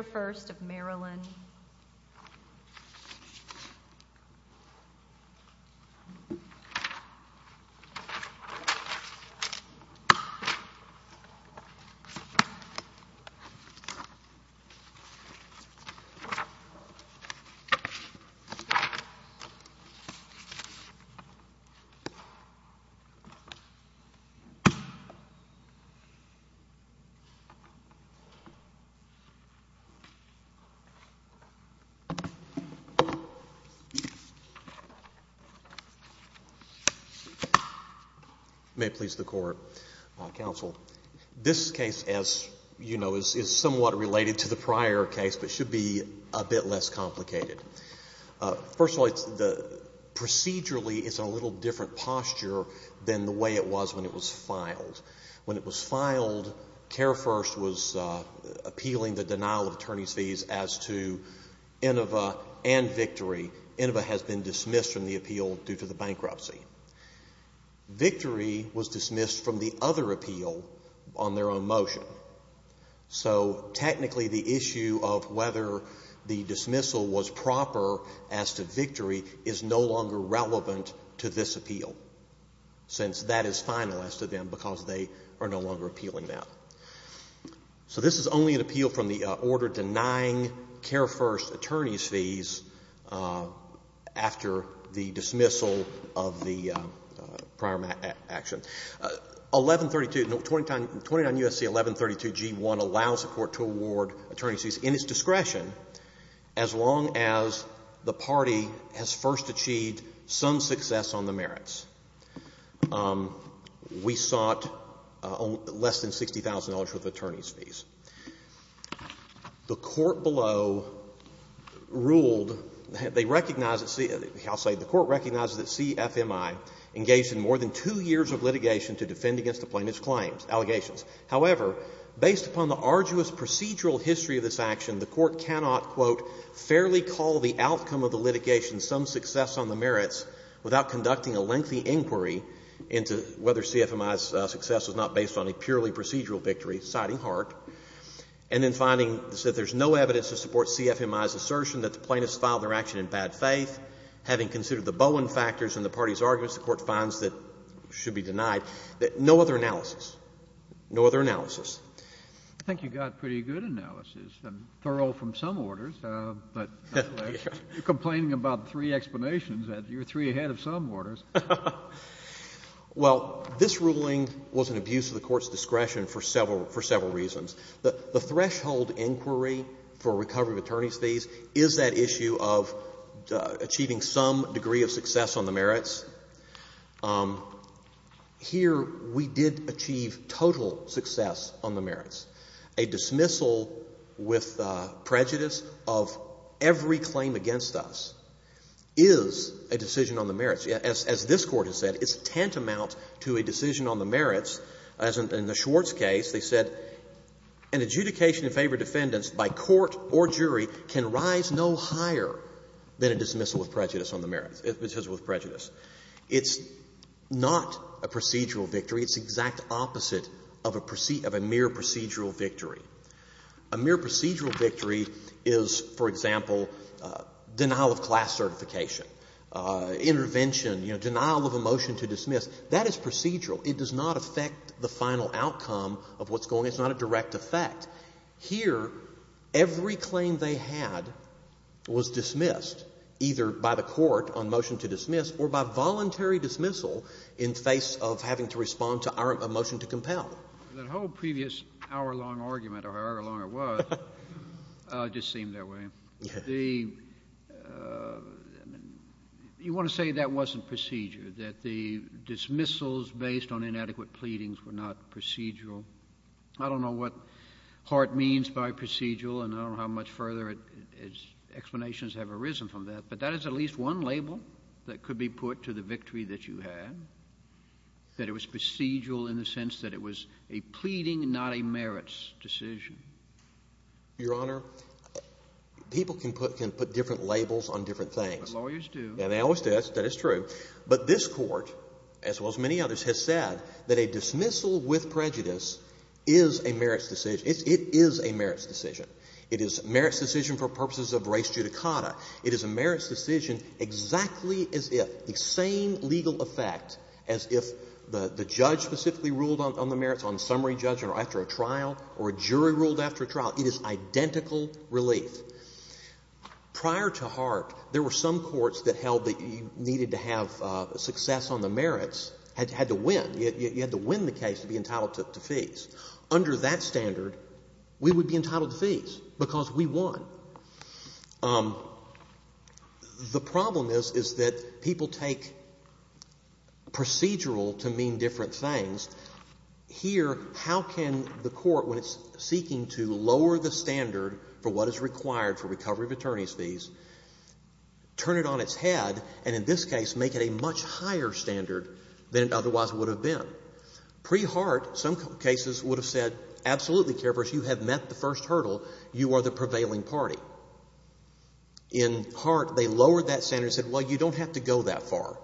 1st of Marillyn May it please the Court, Counsel. This case, as you know, is somewhat related to the prior case, but should be a bit less complicated. First of all, procedurally, it's a little different posture than the way it was when it was filed. When it was filed, Care First was appealing the denial of attorney's fees as to Inova and Victory. Inova has been dismissed from the appeal due to the bankruptcy. Victory was dismissed from the other appeal on their own motion. So, technically, the issue of whether the dismissal was proper as to Victory is no longer relevant to this appeal, since that is final as to them because they are no longer appealing that. So this is only an appeal from the order denying Care First attorney's fees after the dismissal of the prior action. 1132, 29 U.S.C. 1132 G. 1 allows the Court to award attorney's fees in its discretion as long as the party has first of all, less than $60,000 worth of attorney's fees. The Court below ruled, they recognize it, I'll say, the Court recognizes that CFMI engaged in more than two years of litigation to defend against the plaintiff's claims, allegations. However, based upon the arduous procedural history of this action, the Court cannot, quote, fairly call the outcome of the litigation some success on the merits without conducting a lengthy inquiry into whether CFMI's success was not based on a purely procedural victory, citing Hart, and then finding that there's no evidence to support CFMI's assertion that the plaintiffs filed their action in bad faith, having considered the Bowen factors in the party's arguments, the Court finds that should be denied, no other analysis, no other analysis. I think you got a pretty good analysis, thorough from some orders, but you're complaining about three explanations, you're three ahead of some orders. Well, this ruling was an abuse of the Court's discretion for several reasons. The threshold inquiry for recovery of attorney's fees is that issue of achieving some degree of success on the merits. Here, we did achieve total success on the merits. A dismissal with prejudice of every claim against us is a decision on the merits. As this Court has said, it's tantamount to a decision on the merits. As in the Schwartz case, they said an adjudication in favor of defendants by court or jury can rise no higher than a dismissal with prejudice on the merits, a dismissal with prejudice. It's not a procedural victory. It's the exact opposite of a mere procedural victory. A mere procedural victory is, for example, denial of class certification, intervention, you know, denial of a motion to dismiss. That is procedural. It does not affect the final outcome of what's going on. It's not a direct effect. Here, every claim they had was dismissed, either by the Court on motion to dismiss or by voluntary dismissal in face of having to respond to our motion to compel. The whole previous hour-long argument, or however long it was, just seemed that way. You want to say that wasn't procedure, that the dismissals based on inadequate pleadings were not procedural. I don't know what Hart means by procedural, and I don't know how much further explanations have arisen from that, but that is at least one label that it was a pleading, not a merits decision. Your Honor, people can put different labels on different things. Lawyers do. And they always do. That is true. But this Court, as well as many others, has said that a dismissal with prejudice is a merits decision. It is a merits decision. It is a merits decision for purposes of res judicata. It is a merits decision exactly as if, the same legal effect as if the judge specifically ruled on the merits on summary judgment or after a trial or a jury ruled after a trial. It is identical relief. Prior to Hart, there were some courts that held that you needed to have success on the merits, had to win, you had to win the case to be entitled to fees. Under that standard, we would be entitled to fees because we won. The problem is, is that people take procedural to mean different things. Here, how can the Court, when it's seeking to lower the standard for what is required for recovery of attorney's fees, turn it on its head and, in this case, make it a much higher standard than it otherwise would have been? Pre-Hart, some cases, would have said, absolutely, Kerberos, you have met the first hurdle. You are the prevailing party. In Hart, they lowered that standard and said, well, you don't have to go that far.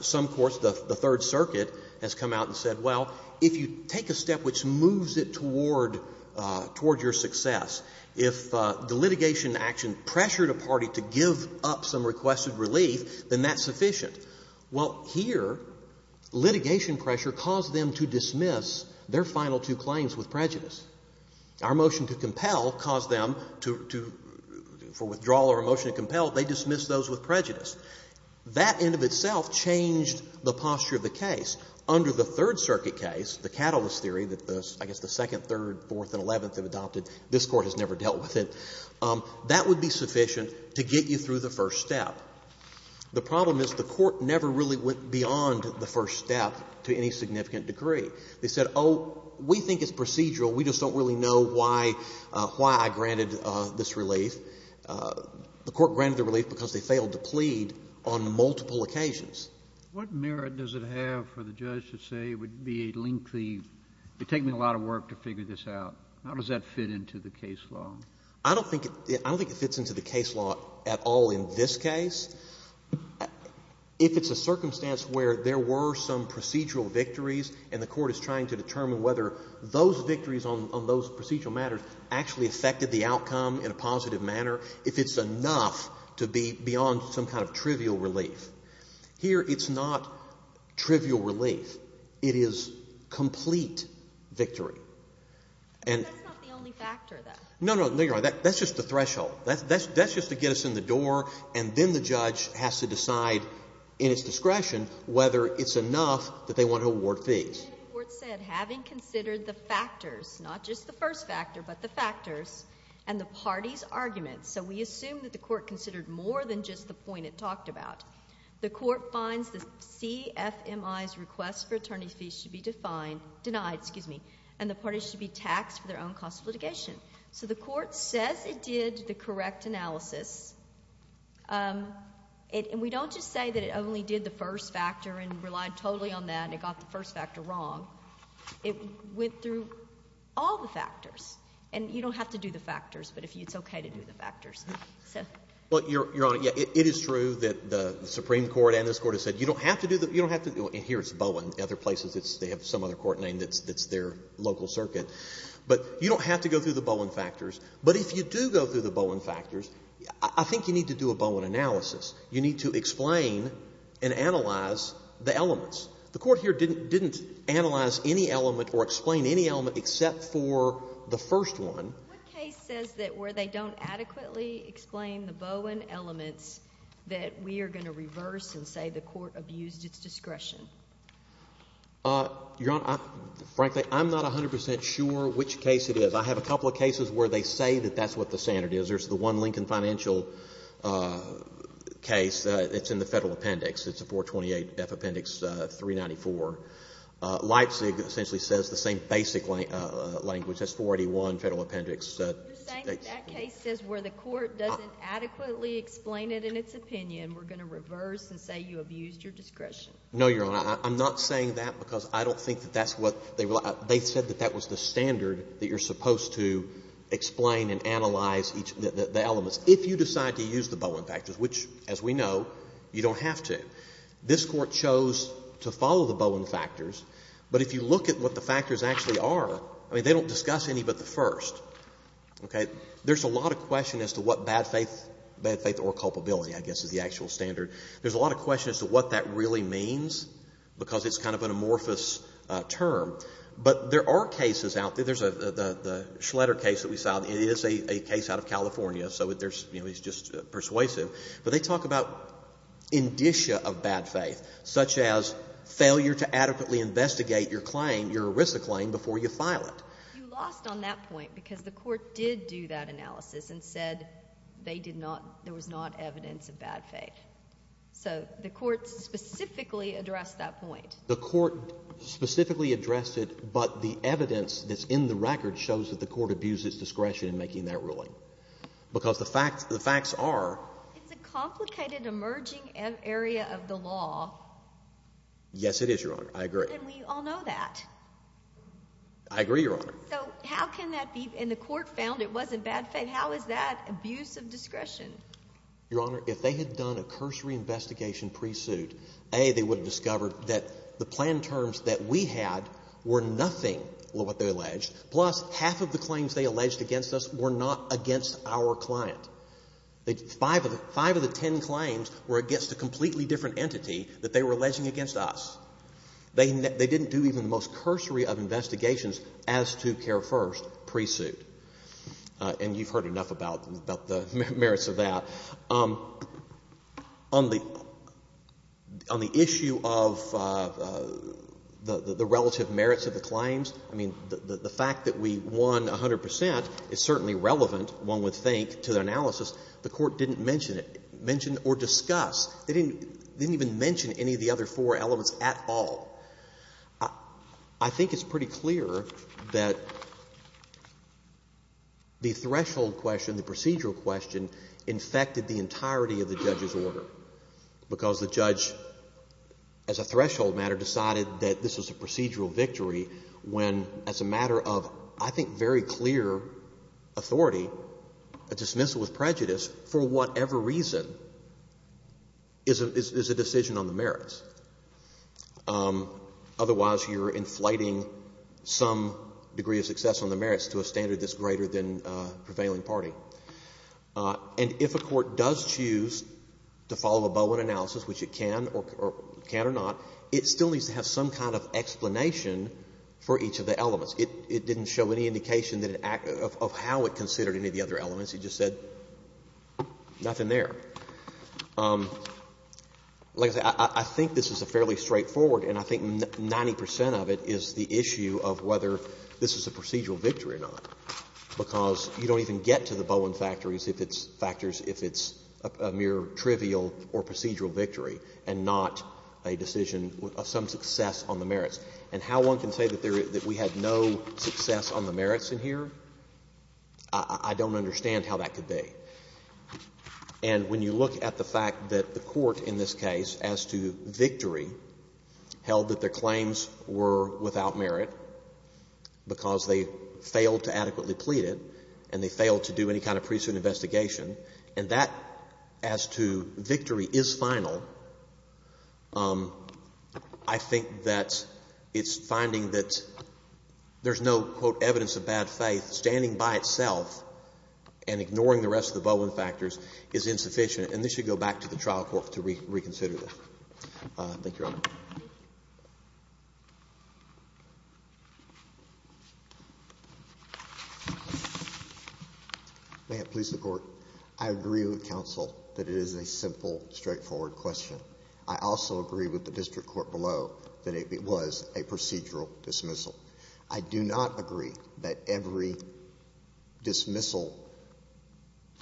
Some courts, the Third Circuit has come out and said, well, if you take a step which moves it toward your success, if the litigation action pressured a party to give up some requested relief, then that's sufficient. Well, here, litigation pressure caused them to dismiss their final two claims with prejudice. Our motion to compel caused them to, for withdrawal or a motion to compel, they dismissed those with prejudice. That in and of itself changed the posture of the case. Under the Third Circuit case, the catalyst theory that the, I guess, the second, third, fourth, and eleventh have adopted, this Court has never dealt with it, that would be sufficient to get you through the first step. The problem is the Court never really went beyond the first step to any significant degree. They said, oh, we think it's procedural. We just don't really know why, why I granted this relief. The Court granted the relief because they failed to plead on multiple occasions. Kennedy. What merit does it have for the judge to say it would be a lengthy, it would take me a lot of work to figure this out? How does that fit into the case law? O'Connor. I don't think, I don't think it fits into the case law at all in this case. If it's a circumstance where there were some procedural victories and the Court is trying to determine whether those victories on those procedural matters actually affected the outcome in a positive manner, if it's enough to be beyond some kind of trivial relief. Here, it's not trivial relief. It is complete victory. O'Connor. That's not the only factor, though. Kennedy. No, no, no, you're right. That's just the threshold. That's just to get us and then the judge has to decide in its discretion whether it's enough that they want to award fees. O'Connor. And the Court said, having considered the factors, not just the first factor, but the factors, and the parties' arguments, so we assume that the Court considered more than just the point it talked about. The Court finds the CFMI's request for attorney fees should be defined, denied, excuse me, and the parties should be taxed for their own cost of litigation. So the Court says it did the correct analysis. And we don't just say that it only did the first factor and relied totally on that and it got the first factor wrong. It went through all the factors. And you don't have to do the factors, but it's okay to do the factors. Kennedy. Well, Your Honor, yeah, it is true that the Supreme Court and this Court have said you don't have to do the, you don't have to, and here it's Bowen, other places, they have some other court name that's their local circuit. But you don't have to go through the Bowen factors. But if you do go through the Bowen factors, I think you need to do a Bowen analysis. You need to explain and analyze the elements. The Court here didn't analyze any element or explain any element except for the first one. O'Connor. What case says that where they don't adequately explain the Bowen elements that we are going to reverse and say the Court abused its discretion? Kennedy. Your Honor, frankly, I'm not 100% sure which case it is. I have a couple of cases where they say that that's what the standard is. There's the one Lincoln Financial case. It's in the Federal Appendix. It's a 428F Appendix 394. Leipzig essentially says the same basic language. That's 481 Federal Appendix. O'Connor. You're saying that that case says where the Court doesn't adequately explain it in its opinion, we're going to reverse and say you abused your discretion? Kennedy. No, Your Honor. I'm not saying that because I don't think that that's what they rely — they said that that was the standard that you're supposed to explain and analyze each — the elements. If you decide to use the Bowen factors, which, as we know, you don't have to, this Court chose to follow the Bowen factors. But if you look at what the factors actually are, I mean, they don't discuss any but the first, okay? There's a lot of question as to what bad faith — bad faith or culpability, I guess, is the actual standard. There's a lot of question as to what that really means because it's kind of an amorphous term. But there are cases out there. There's a — the Schleder case that we filed, it is a case out of California, so there's — you know, he's just persuasive. But they talk about indicia of bad faith, such as failure to adequately investigate your claim, your ERISA claim, before you file it. O'Connor. You lost on that point because the Court did do that analysis and said they did not — there was not evidence of bad faith. So the Court specifically addressed that point. The Court specifically addressed it, but the evidence that's in the record shows that the Court abused its discretion in making that ruling because the facts — the facts are — It's a complicated, emerging area of the law. Yes, it is, Your Honor. I agree. And we all know that. I agree, Your Honor. So how can that be — and the Court found it wasn't bad faith. How is that abuse of discretion? Your Honor, if they had done a cursory investigation pre-suit, A, they would have discovered that the planned terms that we had were nothing of what they alleged, plus half of the claims they alleged against us were not against our client. Five of the ten claims were against a completely different entity that they were alleging against us. They didn't do even the most cursory of investigations as to care first pre-suit. And you've heard enough about the merits of that. On the — on the issue of the relative merits of the claims, I mean, the fact that we won 100 percent is certainly relevant, one would think, to the analysis. The Court didn't mention it — mention or discuss. They didn't even mention any of the other four elements at all. I think it's pretty clear that the threshold question, the procedural question, infected the entirety of the judge's order, because the judge, as a threshold matter, decided that this was a procedural victory when, as a matter of, I think, very clear authority, a dismissal with prejudice, for whatever reason, is a decision on the merits. Otherwise, you're inflating some degree of success on the merits to a standard that's greater than prevailing party. And if a court does choose to follow a Bowen analysis, which it can or can't or not, it still needs to have some kind of explanation for each of the elements. It didn't show any indication that it — of how it considered any of the other elements. It just said nothing there. Like I say, I think this is a fairly straightforward, and I think 90 percent of it is the issue of whether this is a procedural victory or not, because you don't even get to the Bowen factors if it's a mere trivial or procedural victory and not a decision of some success on the merits. And how one can say that we had no success on the merits in here, I don't understand how that could be. And when you look at the fact that the court in this case, as to victory, held that their claims were without merit because they failed to adequately plead it, and they failed to do any kind of pre-suit investigation, and that, as to victory, is final, I think that it's finding that there's no, quote, evidence of bad faith standing by itself, and ignoring the rest of the Bowen factors is insufficient. And this should go back to the trial court to reconsider this. Thank you, Your Honor. May it please the Court. I agree with counsel that it is a simple, straightforward question. I also agree with the district court below that it was a procedural dismissal. I do not agree that every dismissal,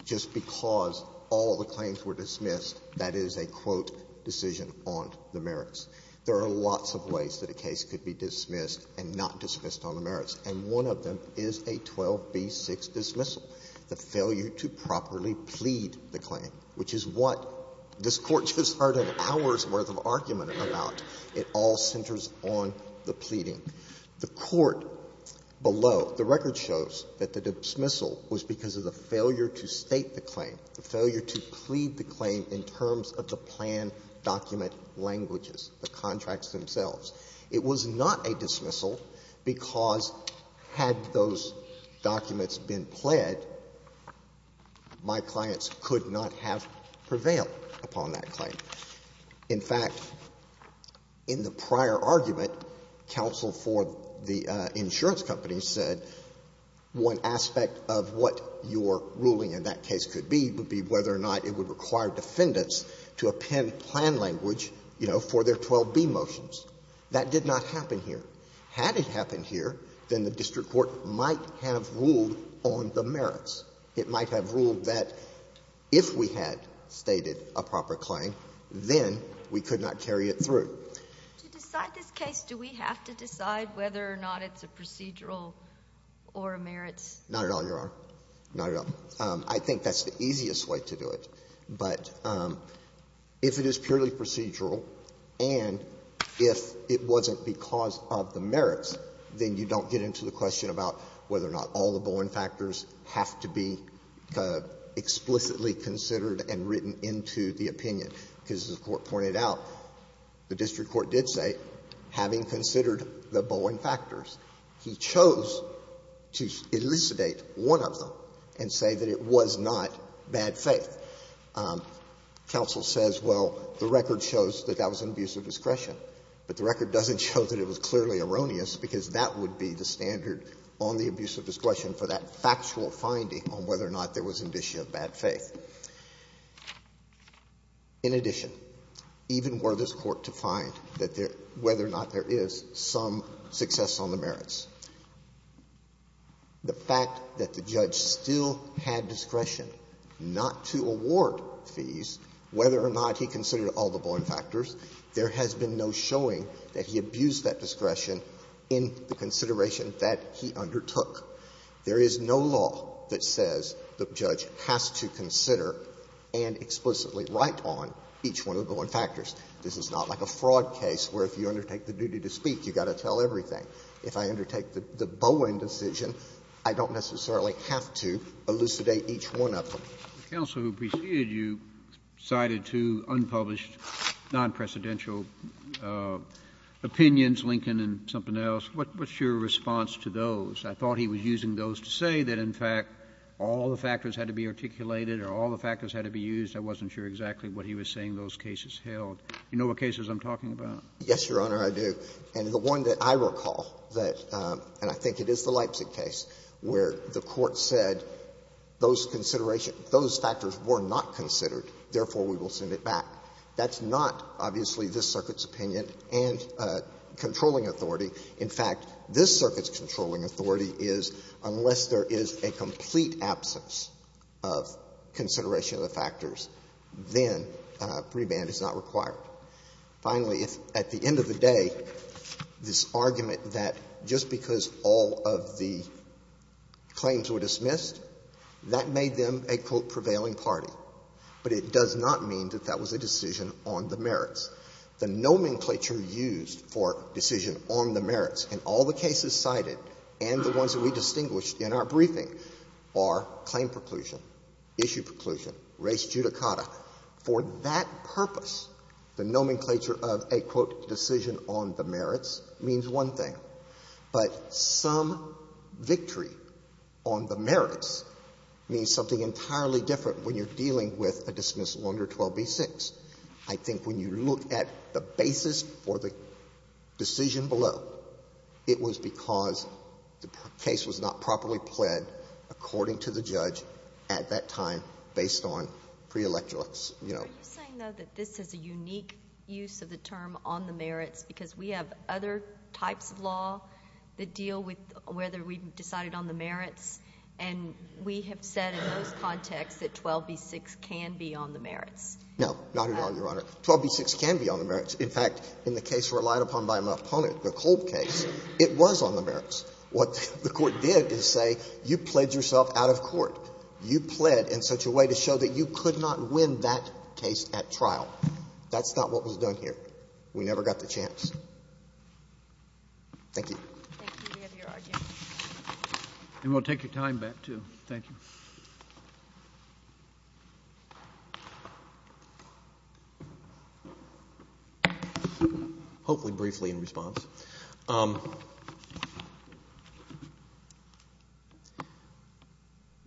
just because all the claims were dismissed, that is a, quote, decision on the merits. There are lots of ways that a case could be dismissed and not dismissed on the merits, and one of them is a 12b-6 dismissal, the failure to properly plead the claim, which is what this Court just heard an hour's worth of argument about. It all centers on the pleading. The court below, the record shows that the dismissal was because of the failure to state the claim, the failure to plead the claim in terms of the plan document languages, the contracts themselves. It was not a dismissal because, had those documents been pled, my clients could not have prevailed upon that claim. In fact, in the prior argument, counsel for the insurance company said one aspect of what your ruling in that case could be would be whether or not it would require defendants to append plan language, you know, for their 12b motions. That did not happen here. Had it happened here, then the district court might have ruled on the merits. It might have ruled that if we had stated a proper claim, then we could not carry it through. To decide this case, do we have to decide whether or not it's a procedural or a merits? Not at all, Your Honor. Not at all. I think that's the easiest way to do it. But if it is purely procedural and if it wasn't because of the merits, then you don't get into the question about whether or not all the Bowen factors have to be explicitly considered and written into the opinion, because, as the Court pointed out, the district court did say, having considered the Bowen factors, he chose to elucidate one of them and say that it was not bad faith. Counsel says, well, the record shows that that was an abuse of discretion, but the on the abuse of discretion for that factual finding on whether or not there was indicia of bad faith. In addition, even were this Court to find that there — whether or not there is some success on the merits, the fact that the judge still had discretion not to award fees, whether or not he considered all the Bowen factors, there has been no showing that he abused that discretion in the consideration that he undertook. There is no law that says the judge has to consider and explicitly write on each one of the Bowen factors. This is not like a fraud case where if you undertake the duty to speak, you've got to tell everything. If I undertake the Bowen decision, I don't necessarily have to elucidate each one of them. Kennedy. The counsel who preceded you cited two unpublished, nonpresidential opinions, Lincoln and something else. What's your response to those? I thought he was using those to say that, in fact, all the factors had to be articulated or all the factors had to be used. I wasn't sure exactly what he was saying those cases held. You know what cases I'm talking about? Yes, Your Honor, I do. And the one that I recall that — and I think it is the Leipzig case where the Court said those considerations, those factors were not considered, therefore, we will send it back. That's not, obviously, this Circuit's opinion and controlling authority. In fact, this Circuit's controlling authority is unless there is a complete absence of consideration of the factors, then pre-band is not required. Finally, at the end of the day, this argument that just because all of the claims were dismissed, that made them a, quote, prevailing party. But it does not mean that that was a decision on the merits. The nomenclature used for decision on the merits in all the cases cited and the ones that we distinguished in our briefing are claim preclusion, issue preclusion, res judicata. For that purpose, the nomenclature of a, quote, decision on the merits means one thing. But some victory on the merits means something entirely different when you're dealing with a dismissal under 12b-6. I think when you look at the basis for the decision below, it was because the case was not properly pled according to the judge at that time, based on pre-electoral ex— You know. Are you saying, though, that this is a unique use of the term on the merits because we have other types of law that deal with whether we've decided on the merits, and we have said in those contexts that 12b-6 can be on the merits? No, not at all, Your Honor. 12b-6 can be on the merits. In fact, in the case relied upon by my opponent, the Colt case, it was on the merits. What the Court did is say, you pledged yourself out of court. You pled in such a way to show that you could not win that case at trial. That's not what was done here. We never got the chance. Thank you. Thank you, Your Honor. And we'll take your time back, too. Thank you. Hopefully briefly in response.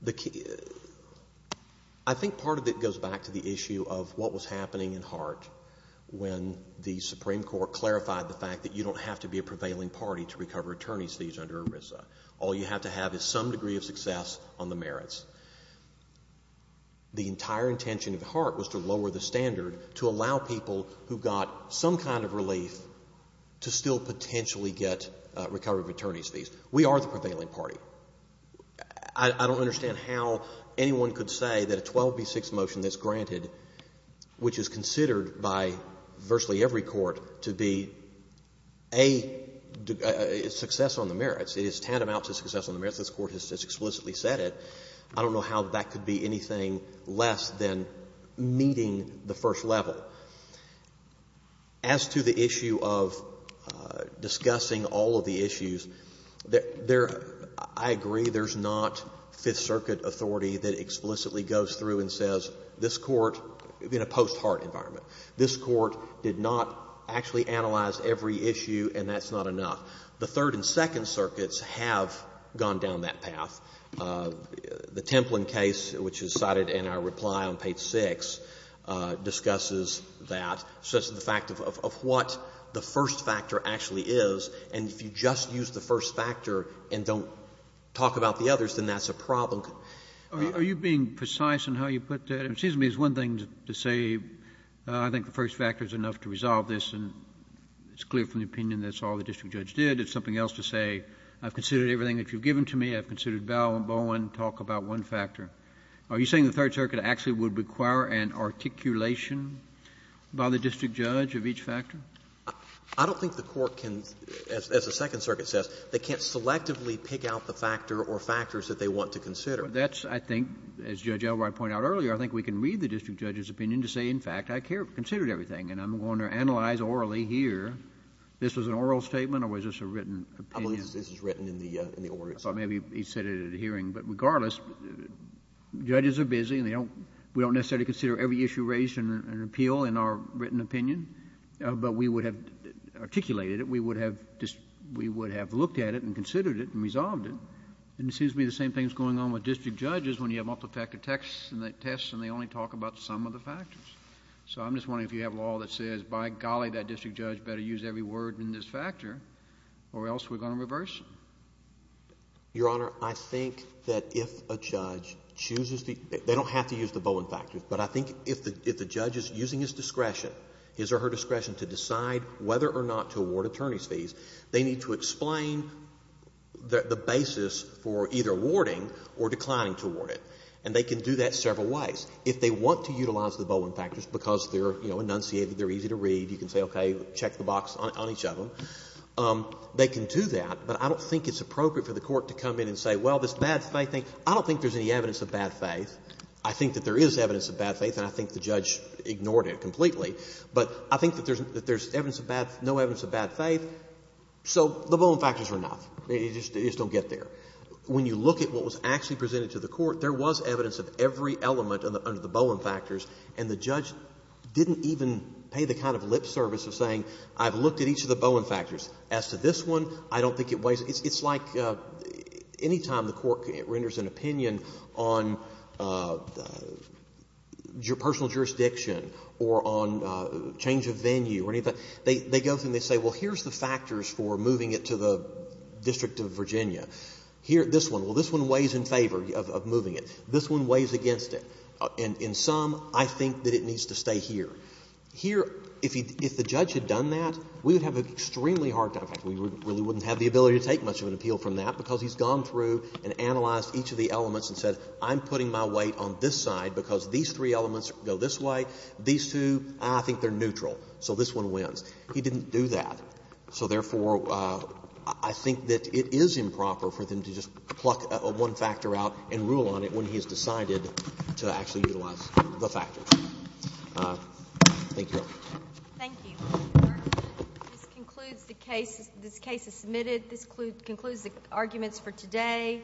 The key—I think part of it goes back to the issue of what was happening in Hart when the Supreme Court clarified the fact that you don't have to be a prevailing party to recover attorney's fees under ERISA. All you have to have is some degree of success on the merits. The entire intention of Hart was to lower the standard to allow people who got some kind of relief to still potentially get recovery of attorney's fees. We are the prevailing party. I don't understand how anyone could say that a 12b-6 motion that's granted, which is considered by virtually every court to be a success on the merits, it is tantamount to success on the merits, this Court has explicitly said it. I don't know how that could be anything less than meeting the first level. As to the issue of discussing all of the issues, there — I agree there's not Fifth Circuit authority that explicitly goes through and says, this Court, in a post-Hart environment, this Court did not actually analyze every issue, and that's not enough. The Third and Second Circuits have gone down that path. The Templin case, which is cited in our reply on page 6, discusses that, such as the fact of what the first factor actually is, and if you just use the first factor and don't talk about the others, then that's a problem. Kennedy, are you being precise in how you put that? It seems to me it's one thing to say, I think the first factor is enough to resolve this, and it's clear from the opinion that's all the district judge did. It's something else to say, I've considered everything that you've given to me. I've considered Bowen, talk about one factor. Are you saying the Third Circuit actually would require an articulation by the district judge of each factor? I don't think the Court can, as the Second Circuit says, they can't selectively pick out the factor or factors that they want to consider. That's, I think, as Judge Elroy pointed out earlier, I think we can read the district judge's opinion to say, in fact, I considered everything, and I'm going to analyze orally here. This was an oral statement or was this a written opinion? I believe this was written in the oral statement. Maybe he said it at a hearing. But regardless, judges are busy and they don't — we don't necessarily consider every issue raised in an appeal in our written opinion, but we would have articulated it, we would have looked at it and considered it and resolved it. And it seems to me the same thing is going on with district judges when you have multifactor tests and they only talk about some of the factors. So I'm just wondering if you have law that says, by golly, that district judge better use every word in this factor or else we're going to reverse it. Your Honor, I think that if a judge chooses to — they don't have to use the Bowen factors, but I think if the judge is using his discretion, his or her discretion to decide whether or not to award attorney's fees, they need to explain the basis for either awarding or declining to award it. And they can do that several ways. If they want to utilize the Bowen factors because they're, you know, enunciated, they're easy to read, you can say, okay, check the box on each of them, they can do that. But I don't think it's appropriate for the Court to come in and say, well, this bad faith thing — I don't think there's any evidence of bad faith. I think that there is evidence of bad faith, and I think the judge ignored it completely. But I think that there's evidence of bad — no evidence of bad faith, so the Bowen factors are enough. They just don't get there. When you look at what was actually presented to the Court, there was evidence of every element under the Bowen factors, and the judge didn't even pay the kind of lip service of saying, I've looked at each of the Bowen factors. As to this one, I don't think it weighs — it's like any time the Court renders an opinion on personal jurisdiction or on change of venue or anything, they go through and they say, well, here's the factors for moving it to the District of Virginia. Here, this one, well, this one weighs in favor of moving it. This one weighs against it. And in sum, I think that it needs to stay here. Here, if the judge had done that, we would have an extremely hard time. In fact, we really wouldn't have the ability to take much of an appeal from that because he's gone through and analyzed each of the elements and said, I'm putting my weight on this side because these three elements go this way, these two, I think they're neutral, so this one wins. He didn't do that. So, therefore, I think that it is improper for them to just pluck one factor out and rule on it when he has decided to actually utilize the factors. Thank you, Your Honor. Thank you, Mr. Berger. This concludes the case. This case is submitted. This concludes the arguments for today.